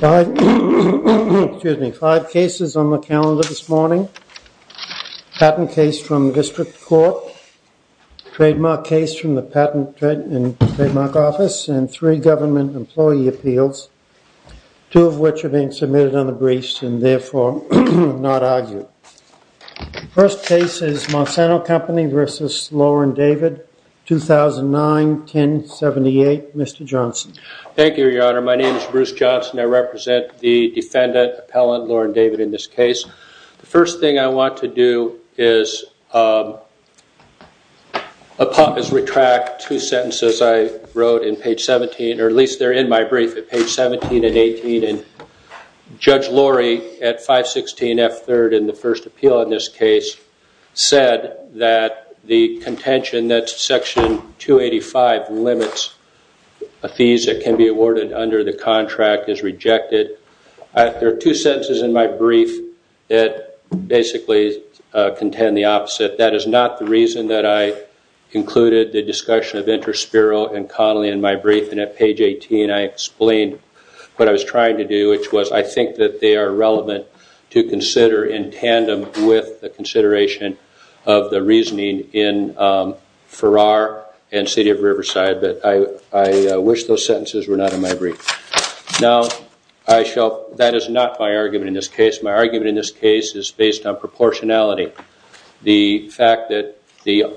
Five cases on the calendar this morning, patent case from district court, trademark case from the patent and trademark office, and three government employee appeals, two of which are being submitted on the briefs and therefore not argued. The first case is Monsanto Company v. Lauren David, 2009, 1078. Mr. Johnson. Thank you, Your Honor. My name is Bruce Johnson. I represent the defendant, appellant Lauren David in this case. The first thing I want to do is, uh, a pop is retract two sentences I wrote in page 17, or at least they're in my brief at page 17 and 18. And Judge Laurie at 516 F3rd in the first appeal in this case said that the contention that section 285 limits a fees that can be awarded under the contract is rejected. There are two sentences in my brief that basically contend the opposite. That is not the reason that I included the discussion of InterSpiral and Connelly in my brief. And at page 18, I explained what I was trying to do, which was I think that they are relevant to consider in tandem with the consideration of the reasoning in Farrar and City of Riverside. But I wish those sentences were not in my brief. Now, I shall, that is not my argument in this case. My argument in this case is based on proportionality. The fact that the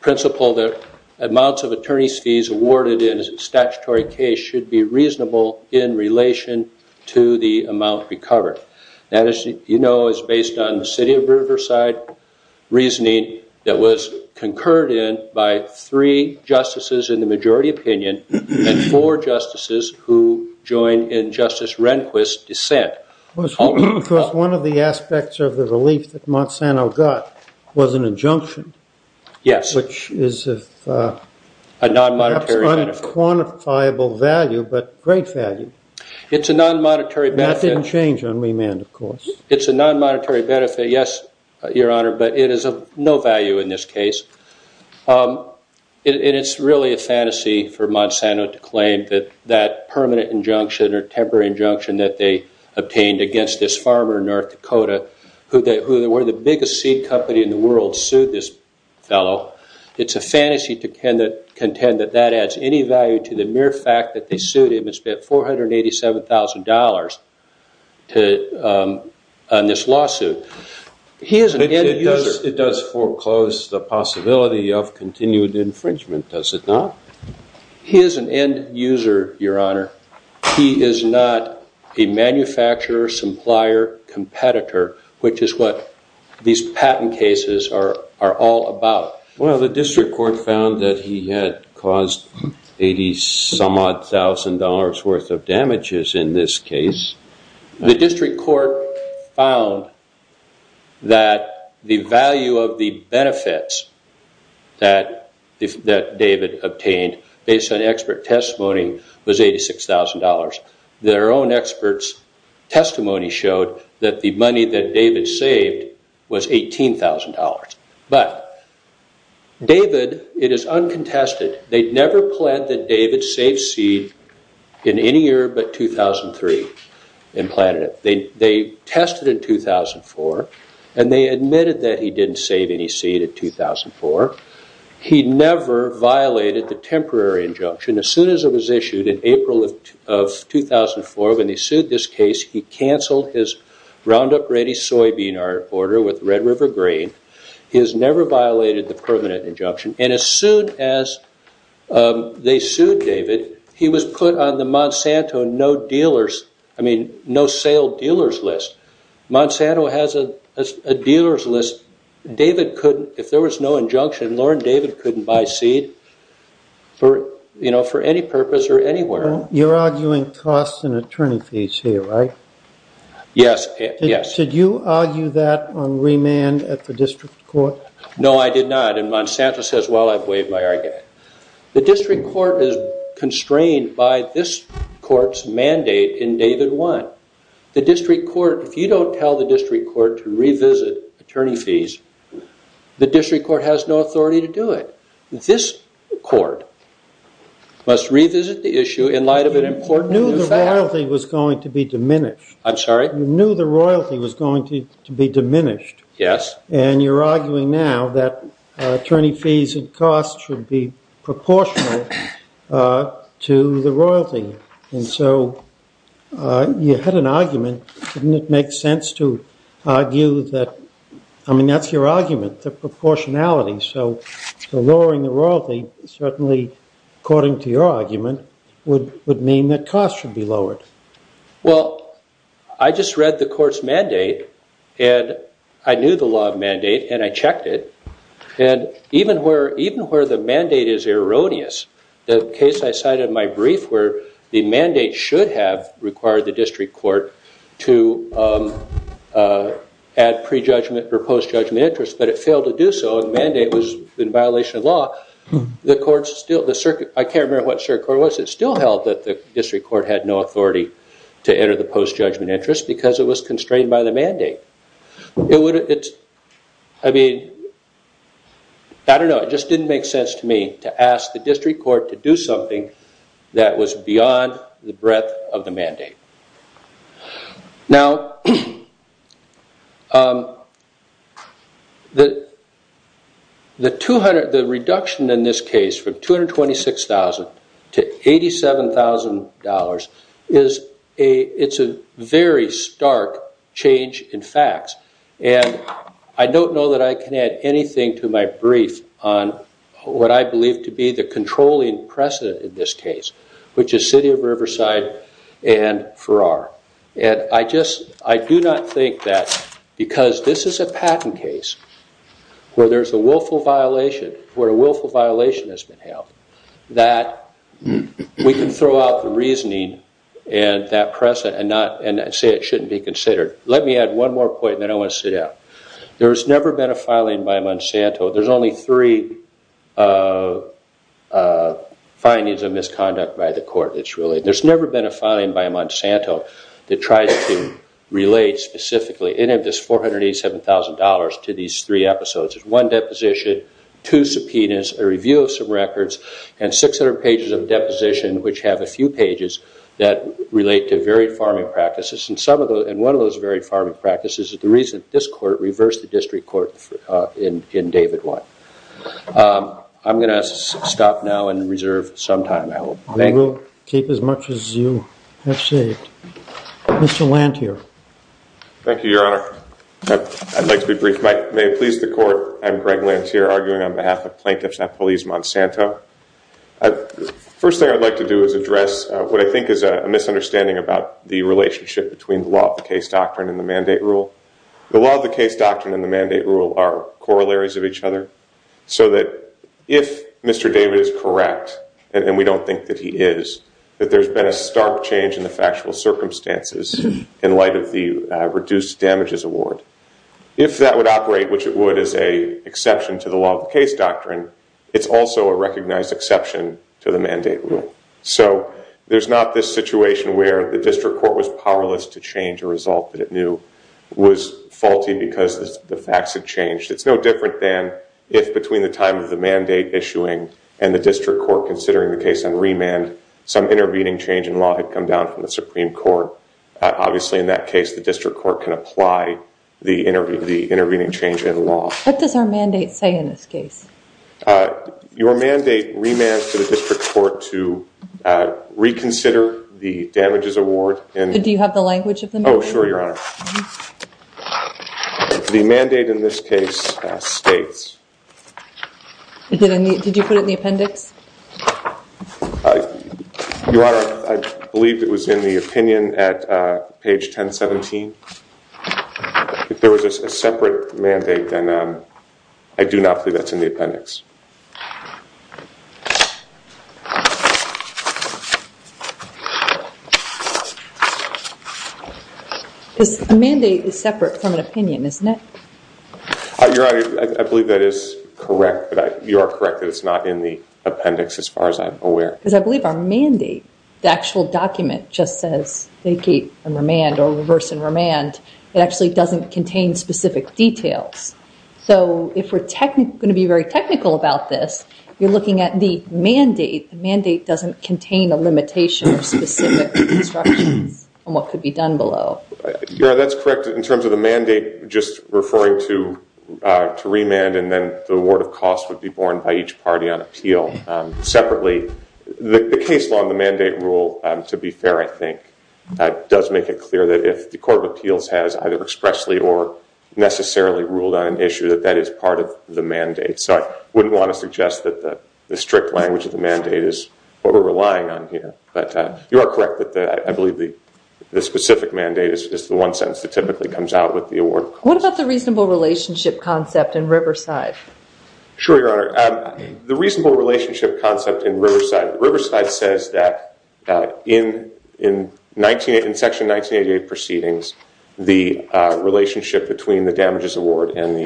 principle that amounts of attorney's fees awarded in a statutory case should be reasonable in relation to the amount recovered. That is, you know, is based on the City of Riverside reasoning that was concurred in by three justices in the majority opinion and four justices who joined in Justice Rehnquist's dissent. It was one of the aspects of the relief that Monsanto got was an injunction, which is of unquantifiable value, but great value. It's a non-monetary benefit. That didn't change on remand, of course. It's a non-monetary benefit, yes, Your Honor, but it is of no value in this case. And it's really a fantasy for Monsanto to claim that that permanent injunction or temporary injunction that they obtained against this farmer in North Dakota, who they were the biggest seed company in the world, sued this fellow. It's a fantasy to contend that that adds any value to the mere fact that they sued him and spent $487,000 on this lawsuit. He is an end user. It does foreclose the possibility of continued infringement, does it not? He is an end user, Your Honor. He is not a manufacturer, supplier, competitor, which is what these patent cases are all about. Well, the district court found that he had caused $80-some-odd-thousand worth of damages in this case. The district court found that the value of the benefits that David obtained, based on expert testimony, was $86,000. Their own expert's testimony showed that the money that David saved was $18,000. But David, it is uncontested. They never planned that David save seed in any year but 2003 and planted it. They tested in 2004 and they admitted that he didn't save any seed in 2004. He never violated the temporary injunction. As soon as it was issued in April of 2004, when they sued this case, he canceled his Roundup Ready soybean order with Red River Grain. He has never violated the permanent injunction. And as soon as they sued David, he was put on the Monsanto no-sale dealers list. Monsanto has a dealers list. If there was no injunction, Lorne David couldn't buy seed for any purpose or anywhere. You're arguing costs and attorney fees here, right? Yes. Did you argue that on remand at the district court? No, I did not. And Monsanto says, well, I've waived my argument. The district court is constrained by this court's mandate in David 1. The district court, if you don't tell the district court to revisit attorney fees, the district court has no authority to do it. This court must revisit the issue in light of an important new fact. You knew the royalty was going to be diminished. I'm sorry? You knew the royalty was going to be diminished. Yes. And you're arguing now that attorney fees and costs should be proportional to the royalty. And so you had an argument. Didn't it make sense to argue that? I mean, that's your argument, the proportionality. So lowering the royalty, certainly according to your argument, would mean that costs should be lowered. Well, I just read the court's mandate. And I knew the law of mandate. And I checked it. And even where the mandate is erroneous, the case I cited in my brief where the mandate should have required the district court to add pre-judgment or post-judgment interest, but it failed to do so. And the mandate was in violation of law. I can't remember what the circuit court was. It still held that the district court had no authority to enter the post-judgment interest because it was constrained by the mandate. I mean, I don't know. It just didn't make sense to me to ask the district court to do something that was beyond the breadth of the mandate. Now, the reduction in this case from $226,000 to $87,000, it's a very stark change in facts. And I don't know that I can add anything to my brief on what I believe to be the controlling precedent in this case, which is City of Riverside and Farrar. And I do not think that because this is a patent case where there's a willful violation, where a willful violation has been held, that we can throw out the reasoning and that precedent and say it shouldn't be considered. Let me add one more point and then I want to sit down. There's never been a filing by Monsanto. There's only three findings of misconduct by the court that's related. There's never been a filing by Monsanto that tries to relate specifically any of this $487,000 to these three episodes. There's one deposition, two subpoenas, a review of some records, and 600 pages of deposition, which have a few pages that relate to varied farming practices. And one of those varied farming practices is the reason this court reversed the district court in David 1. I'm going to stop now and reserve some time, I hope. Thank you. We'll keep as much as you have saved. Mr. Lanthier. Thank you, Your Honor. I'd like to be brief. May it please the court, I'm Greg Lanthier, arguing on behalf of Plaintiffs Not Police Monsanto. The first thing I'd like to do is address what I think is a misunderstanding about the relationship between the law of the case doctrine and the mandate rule. The law of the case doctrine and the mandate rule are corollaries of each other, so that if Mr. David is correct, and we don't think that he is, that there's been a stark change in the factual circumstances in light of the reduced damages award. If that would operate, which it would as a exception to the law of the case doctrine, it's also a recognized exception to the mandate rule. So there's not this situation where the district court was powerless to change a result that it knew was faulty because the facts had changed. It's no different than if between the time of the mandate issuing and the district court considering the case on remand, some intervening change in law had come down from the Supreme Court. Obviously in that case, the district court can apply the intervening change in law. What does our mandate say in this case? Your mandate remands to the district court to reconsider the damages award. And do you have the language of the mandate? Oh sure, your honor. The mandate in this case states. Did you put it in the appendix? Your honor, I believe it was in the opinion at page 1017. If there was a separate mandate, then I do not believe that's in the appendix. The mandate is separate from an opinion, isn't it? Your honor, I believe that is correct. But you are correct that it's not in the appendix as far as I'm aware. Because I believe our mandate, the actual document just says vacate and remand or reverse and remand. It actually doesn't contain specific details. So if we're going to be very technical about this, you're looking at the mandate. The mandate doesn't contain a limitation or specific instructions on what could be done below. Your honor, that's correct in terms of the mandate just referring to remand and then the award of cost would be borne by each party on appeal separately. The case law and the mandate rule, to be fair I think, does make it clear that if the court of appeals has either expressly or necessarily ruled on an issue that that is part of the mandate. So I wouldn't want to suggest that the strict language of the mandate is what we're relying on here. But you are correct that I believe the specific mandate is the one sentence that typically comes out with the award. What about the reasonable relationship concept in Riverside? Sure, your honor. The reasonable relationship concept in Riverside says that in section 1988 proceedings, the relationship between the damages award and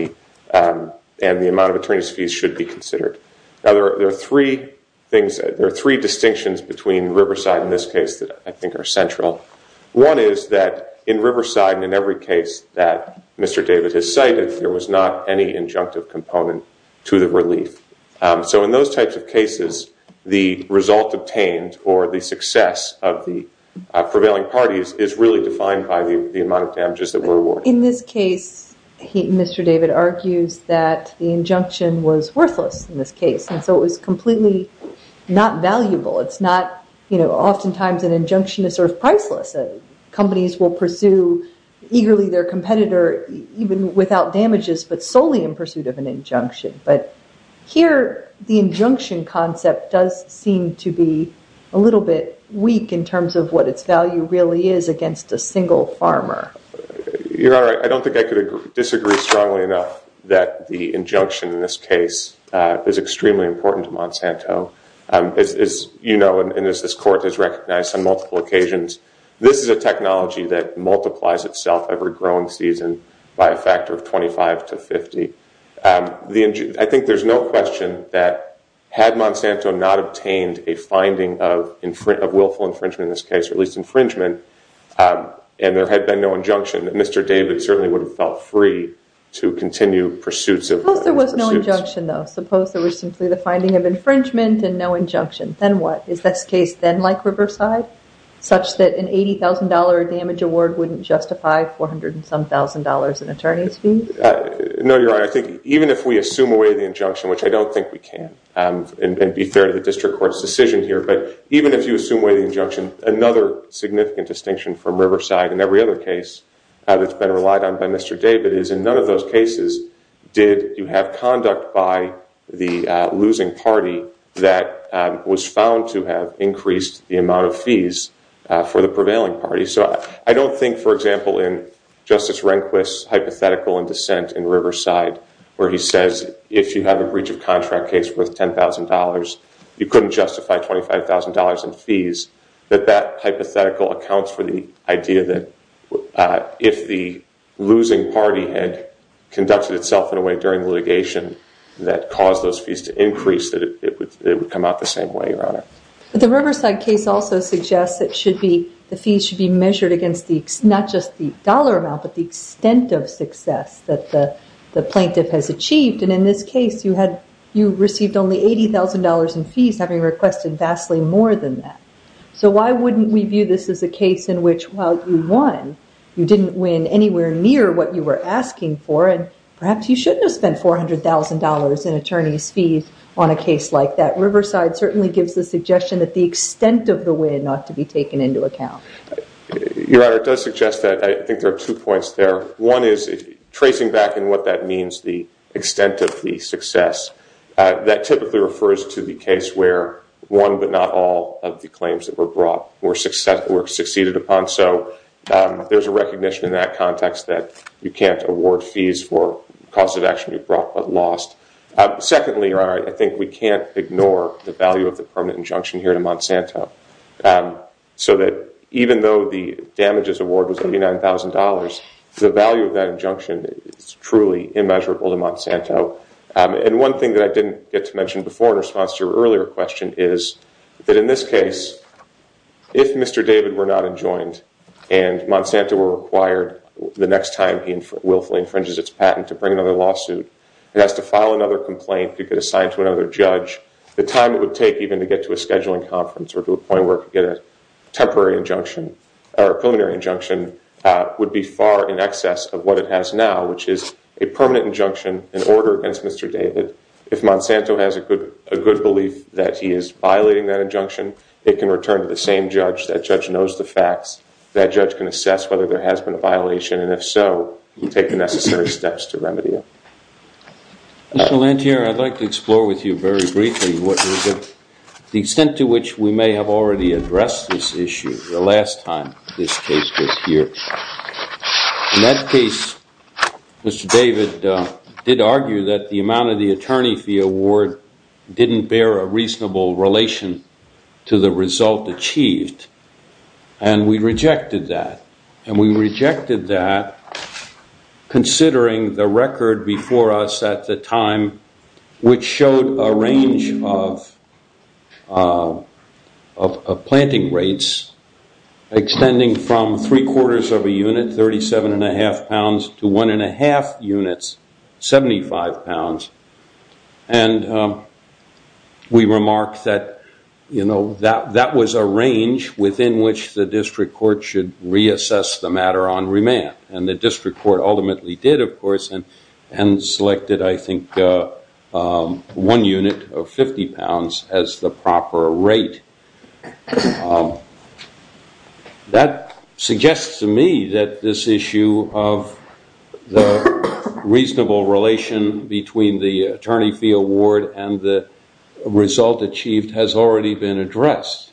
the amount of attorneys fees should be considered. Now there are three things, there are three distinctions between Riverside in this case that I think are central. One is that in Riverside and in every case that Mr. David has cited, there was not any injunctive component to the relief. So in those types of cases, the result obtained or the success of the prevailing parties is really defined by the amount of damages that were awarded. In this case, Mr. David argues that the injunction was worthless in this case. And so it was completely not valuable. It's not, you know, oftentimes an injunction is sort of priceless. Companies will pursue eagerly their competitor even without damages, but solely in pursuit of an injunction. But here the injunction concept does seem to be a little bit weak in terms of what its value really is against a single farmer. Your Honor, I don't think I could disagree strongly enough that the injunction in this case is extremely important to Monsanto. As you know, and as this court has recognized on multiple occasions, this is a technology that multiplies itself every growing season by a factor of 25 to 50. I think there's no question that had Monsanto not obtained a finding of willful infringement in this case, or at least infringement, and there had been no injunction, Mr. David certainly would have felt free to continue pursuits of... Suppose there was no injunction, though. Suppose there was simply the finding of infringement and no injunction. Then what? Is this case then like Riverside, such that an $80,000 damage award wouldn't justify $400-and-some-thousand in attorney's fees? No, Your Honor. I think even if we assume away the injunction, which I don't think we can, and be fair to the district court's decision here, but even if you assume away the injunction, another significant distinction from Riverside in every other case that's been relied on by Mr. David is, in none of those cases did you have conduct by the losing party that was found to have increased the amount of fees for the prevailing party. So I don't think, for example, in Justice Rehnquist's hypothetical in dissent in Riverside, where he says, if you have a breach of contract case worth $10,000, you couldn't justify $25,000 in fees, that that hypothetical accounts for the idea that if the losing party had conducted itself in a way during litigation that caused those fees to increase, that it would come out the same way, Your Honor. But the Riverside case also suggests that the fees should be measured against not just the dollar amount, but the extent of success that the plaintiff has achieved. And in this case, you received only $80,000 in fees, having requested vastly more than that. So why wouldn't we view this as a case in which, while you won, you didn't win anywhere near what you were asking for, and perhaps you shouldn't have spent $400,000 in attorney's fees on a case like that? Riverside certainly gives the suggestion that the extent of the win ought to be taken into account. Your Honor, it does suggest that I think there are two points there. One is, tracing back in what that means, the extent of the success, that typically refers to the case where one but not all of the claims that were brought were succeeded upon. So there's a recognition in that context that you can't award fees for causes of action you brought but lost. Secondly, Your Honor, I think we can't ignore the value of the permanent injunction here to Monsanto. So that even though the damages award was $89,000, the value of that injunction is truly immeasurable to Monsanto. And one thing that I didn't get to mention before in response to your earlier question is that in this case, if Mr. David were not enjoined and Monsanto were required the next time he willfully infringes its patent to bring another lawsuit, it has to file another complaint to get assigned to another judge. The time it would take even to get to a scheduling conference or to a point where it could get a temporary injunction or a preliminary injunction would be far in excess of what it has now, which is a permanent injunction in order against Mr. David. If Monsanto has a good belief that he is violating that injunction, it can return to the same judge. That judge knows the facts. That judge can assess whether there has been a violation, and if so, take the necessary steps to remedy it. Mr. Lanthier, I'd like to explore with you very briefly what is it, the extent to which we may have already addressed this issue the last time this case was here. In that case, Mr. David did argue that the amount of the attorney fee award didn't bear a reasonable relation to the result achieved. And we rejected that. And we rejected that considering the record before us at the time, which showed a range of planting rates, extending from three quarters of a unit, 37 and a half pounds, to one and a half units, 75 pounds. And we remarked that, you know, that was a range within which the district court should reassess the matter on remand. And the district court ultimately did, of course, and selected, I think, one unit of 50 pounds as the proper rate. That suggests to me that this issue of the reasonable relation between the attorney fee award and the result achieved has already been addressed.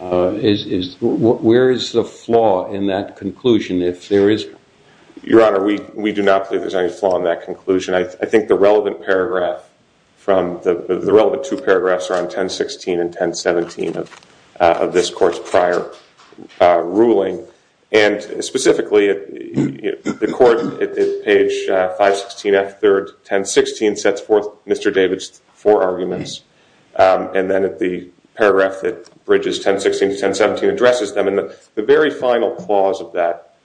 Where is the flaw in that conclusion, if there is? Your Honor, we do not believe there's any flaw in that conclusion. I think the relevant paragraph from the relevant two paragraphs are on 1016 and 1017 of this court's prior ruling. And specifically, the court at page 516 F3rd 1016 sets forth Mr. David's four arguments. And then at the paragraph that bridges 1016 to 1017 addresses them. The very final clause of that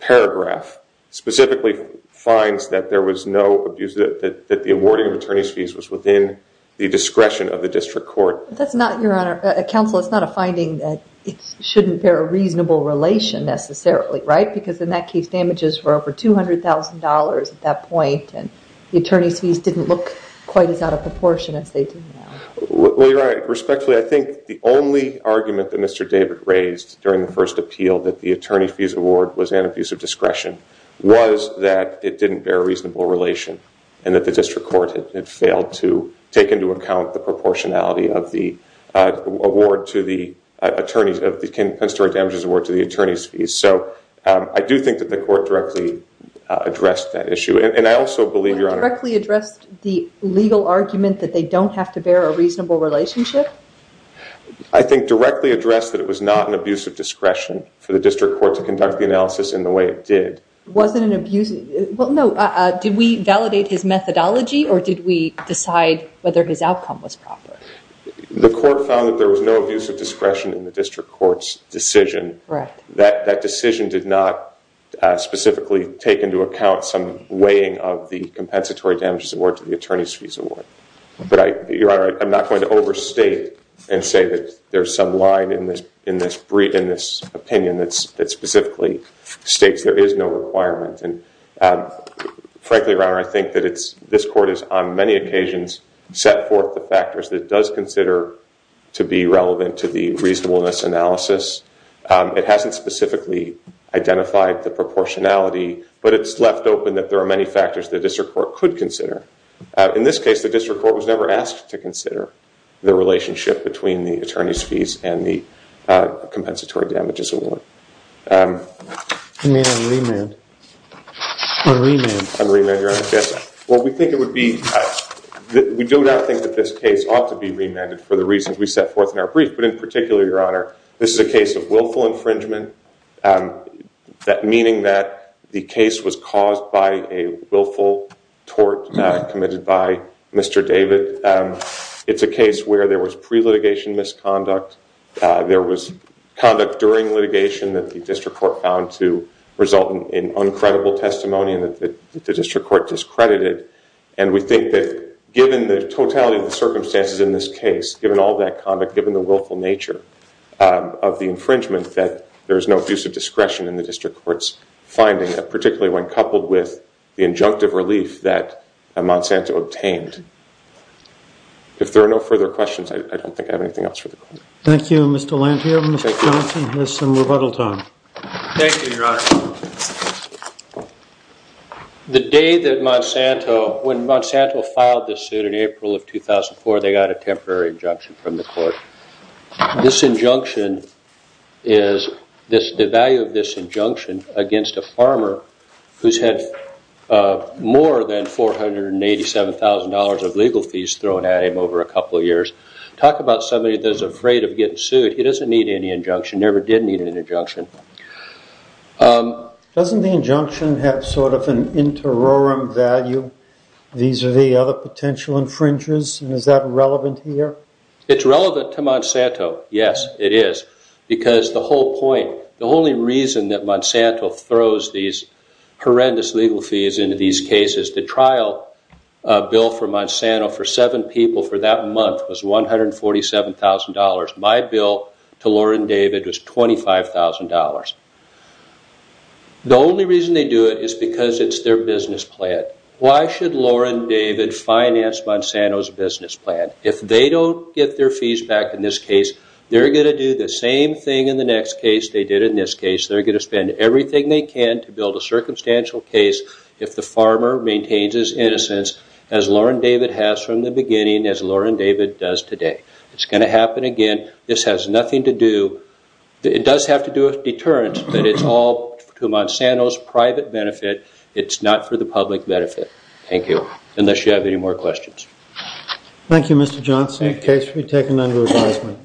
paragraph specifically finds that there was no abuse, that the awarding of attorney's fees was within the discretion of the district court. That's not, Your Honor, counsel, it's not a finding that it shouldn't bear a reasonable relation necessarily, right? Because in that case, damages were over $200,000 at that point. And the attorney's fees didn't look quite as out of proportion as they do now. Well, Your Honor, respectfully, I think the only argument that Mr. David raised during the first appeal that the attorney fees award was an abuse of discretion was that it didn't bear a reasonable relation and that the district court had failed to take into account the proportionality of the award to the attorneys, of the Penn State damages award to the attorney's fees. So, I do think that the court directly addressed that issue. And I also believe, Your Honor- They don't have to bear a reasonable relationship? I think directly addressed that it was not an abuse of discretion for the district court to conduct the analysis in the way it did. Was it an abuse, well, no, did we validate his methodology or did we decide whether his outcome was proper? The court found that there was no abuse of discretion in the district court's decision. Right. That decision did not specifically take into account some weighing of the compensatory damages award to the attorney's fees award. Your Honor, I'm not going to overstate and say that there's some line in this opinion that specifically states there is no requirement. And frankly, Your Honor, I think that this court has, on many occasions, set forth the factors that it does consider to be relevant to the reasonableness analysis. It hasn't specifically identified the proportionality, but it's left open that there are many factors the district court could consider. In this case, the district court was never asked to consider the relationship between the attorney's fees and the compensatory damages award. You may have to remand, or remand. I'll remand, Your Honor, yes. What we think it would be, we do not think that this case ought to be remanded for the reasons we set forth in our brief, but in particular, Your Honor, this is a case of willful infringement, meaning that the case was caused by a willful tort committed by Mr. David. It's a case where there was pre-litigation misconduct. There was conduct during litigation that the district court found to result in uncredible testimony and that the district court discredited. And we think that given the totality of the circumstances in this case, given all that conduct, given the willful nature of the infringement, that there is no abusive discretion in the district court's finding, particularly when coupled with the injunctive relief that Monsanto obtained. If there are no further questions, I don't think I have anything else for the court. Thank you, Mr. Lantier. Mr. Johnson has some rebuttal time. Thank you, Your Honor. The day that Monsanto, when Monsanto filed this suit in April of 2004, they got a temporary injunction from the court. This injunction is, the value of this injunction against a farmer who's had more than $487,000 of legal fees thrown at him over a couple of years. Talk about somebody that is afraid of getting sued. He doesn't need any injunction, never did need an injunction. Doesn't the injunction have sort of an interorum value? These are the other potential infringers, and is that relevant here? It's relevant to Monsanto. Yes, it is, because the whole point, the only reason that Monsanto throws these horrendous legal fees into these cases, the trial bill for Monsanto for seven people for that month was $147,000. My bill to Laura and David was $25,000. The only reason they do it is because it's their business plan. Why should Laura and David finance Monsanto's business plan? If they don't get their fees back in this case, they're going to do the same thing in the next case they did in this case. They're going to spend everything they can to build a circumstantial case if the farmer maintains his innocence, as Laura and David has from the beginning, as Laura and David does today. It's going to happen again. This has nothing to do, it does have to do with deterrence, but it's all to Monsanto's private benefit. It's not for the public benefit. Thank you. Unless you have any more questions. Thank you, Mr. Johnson. The case will be taken under advisement.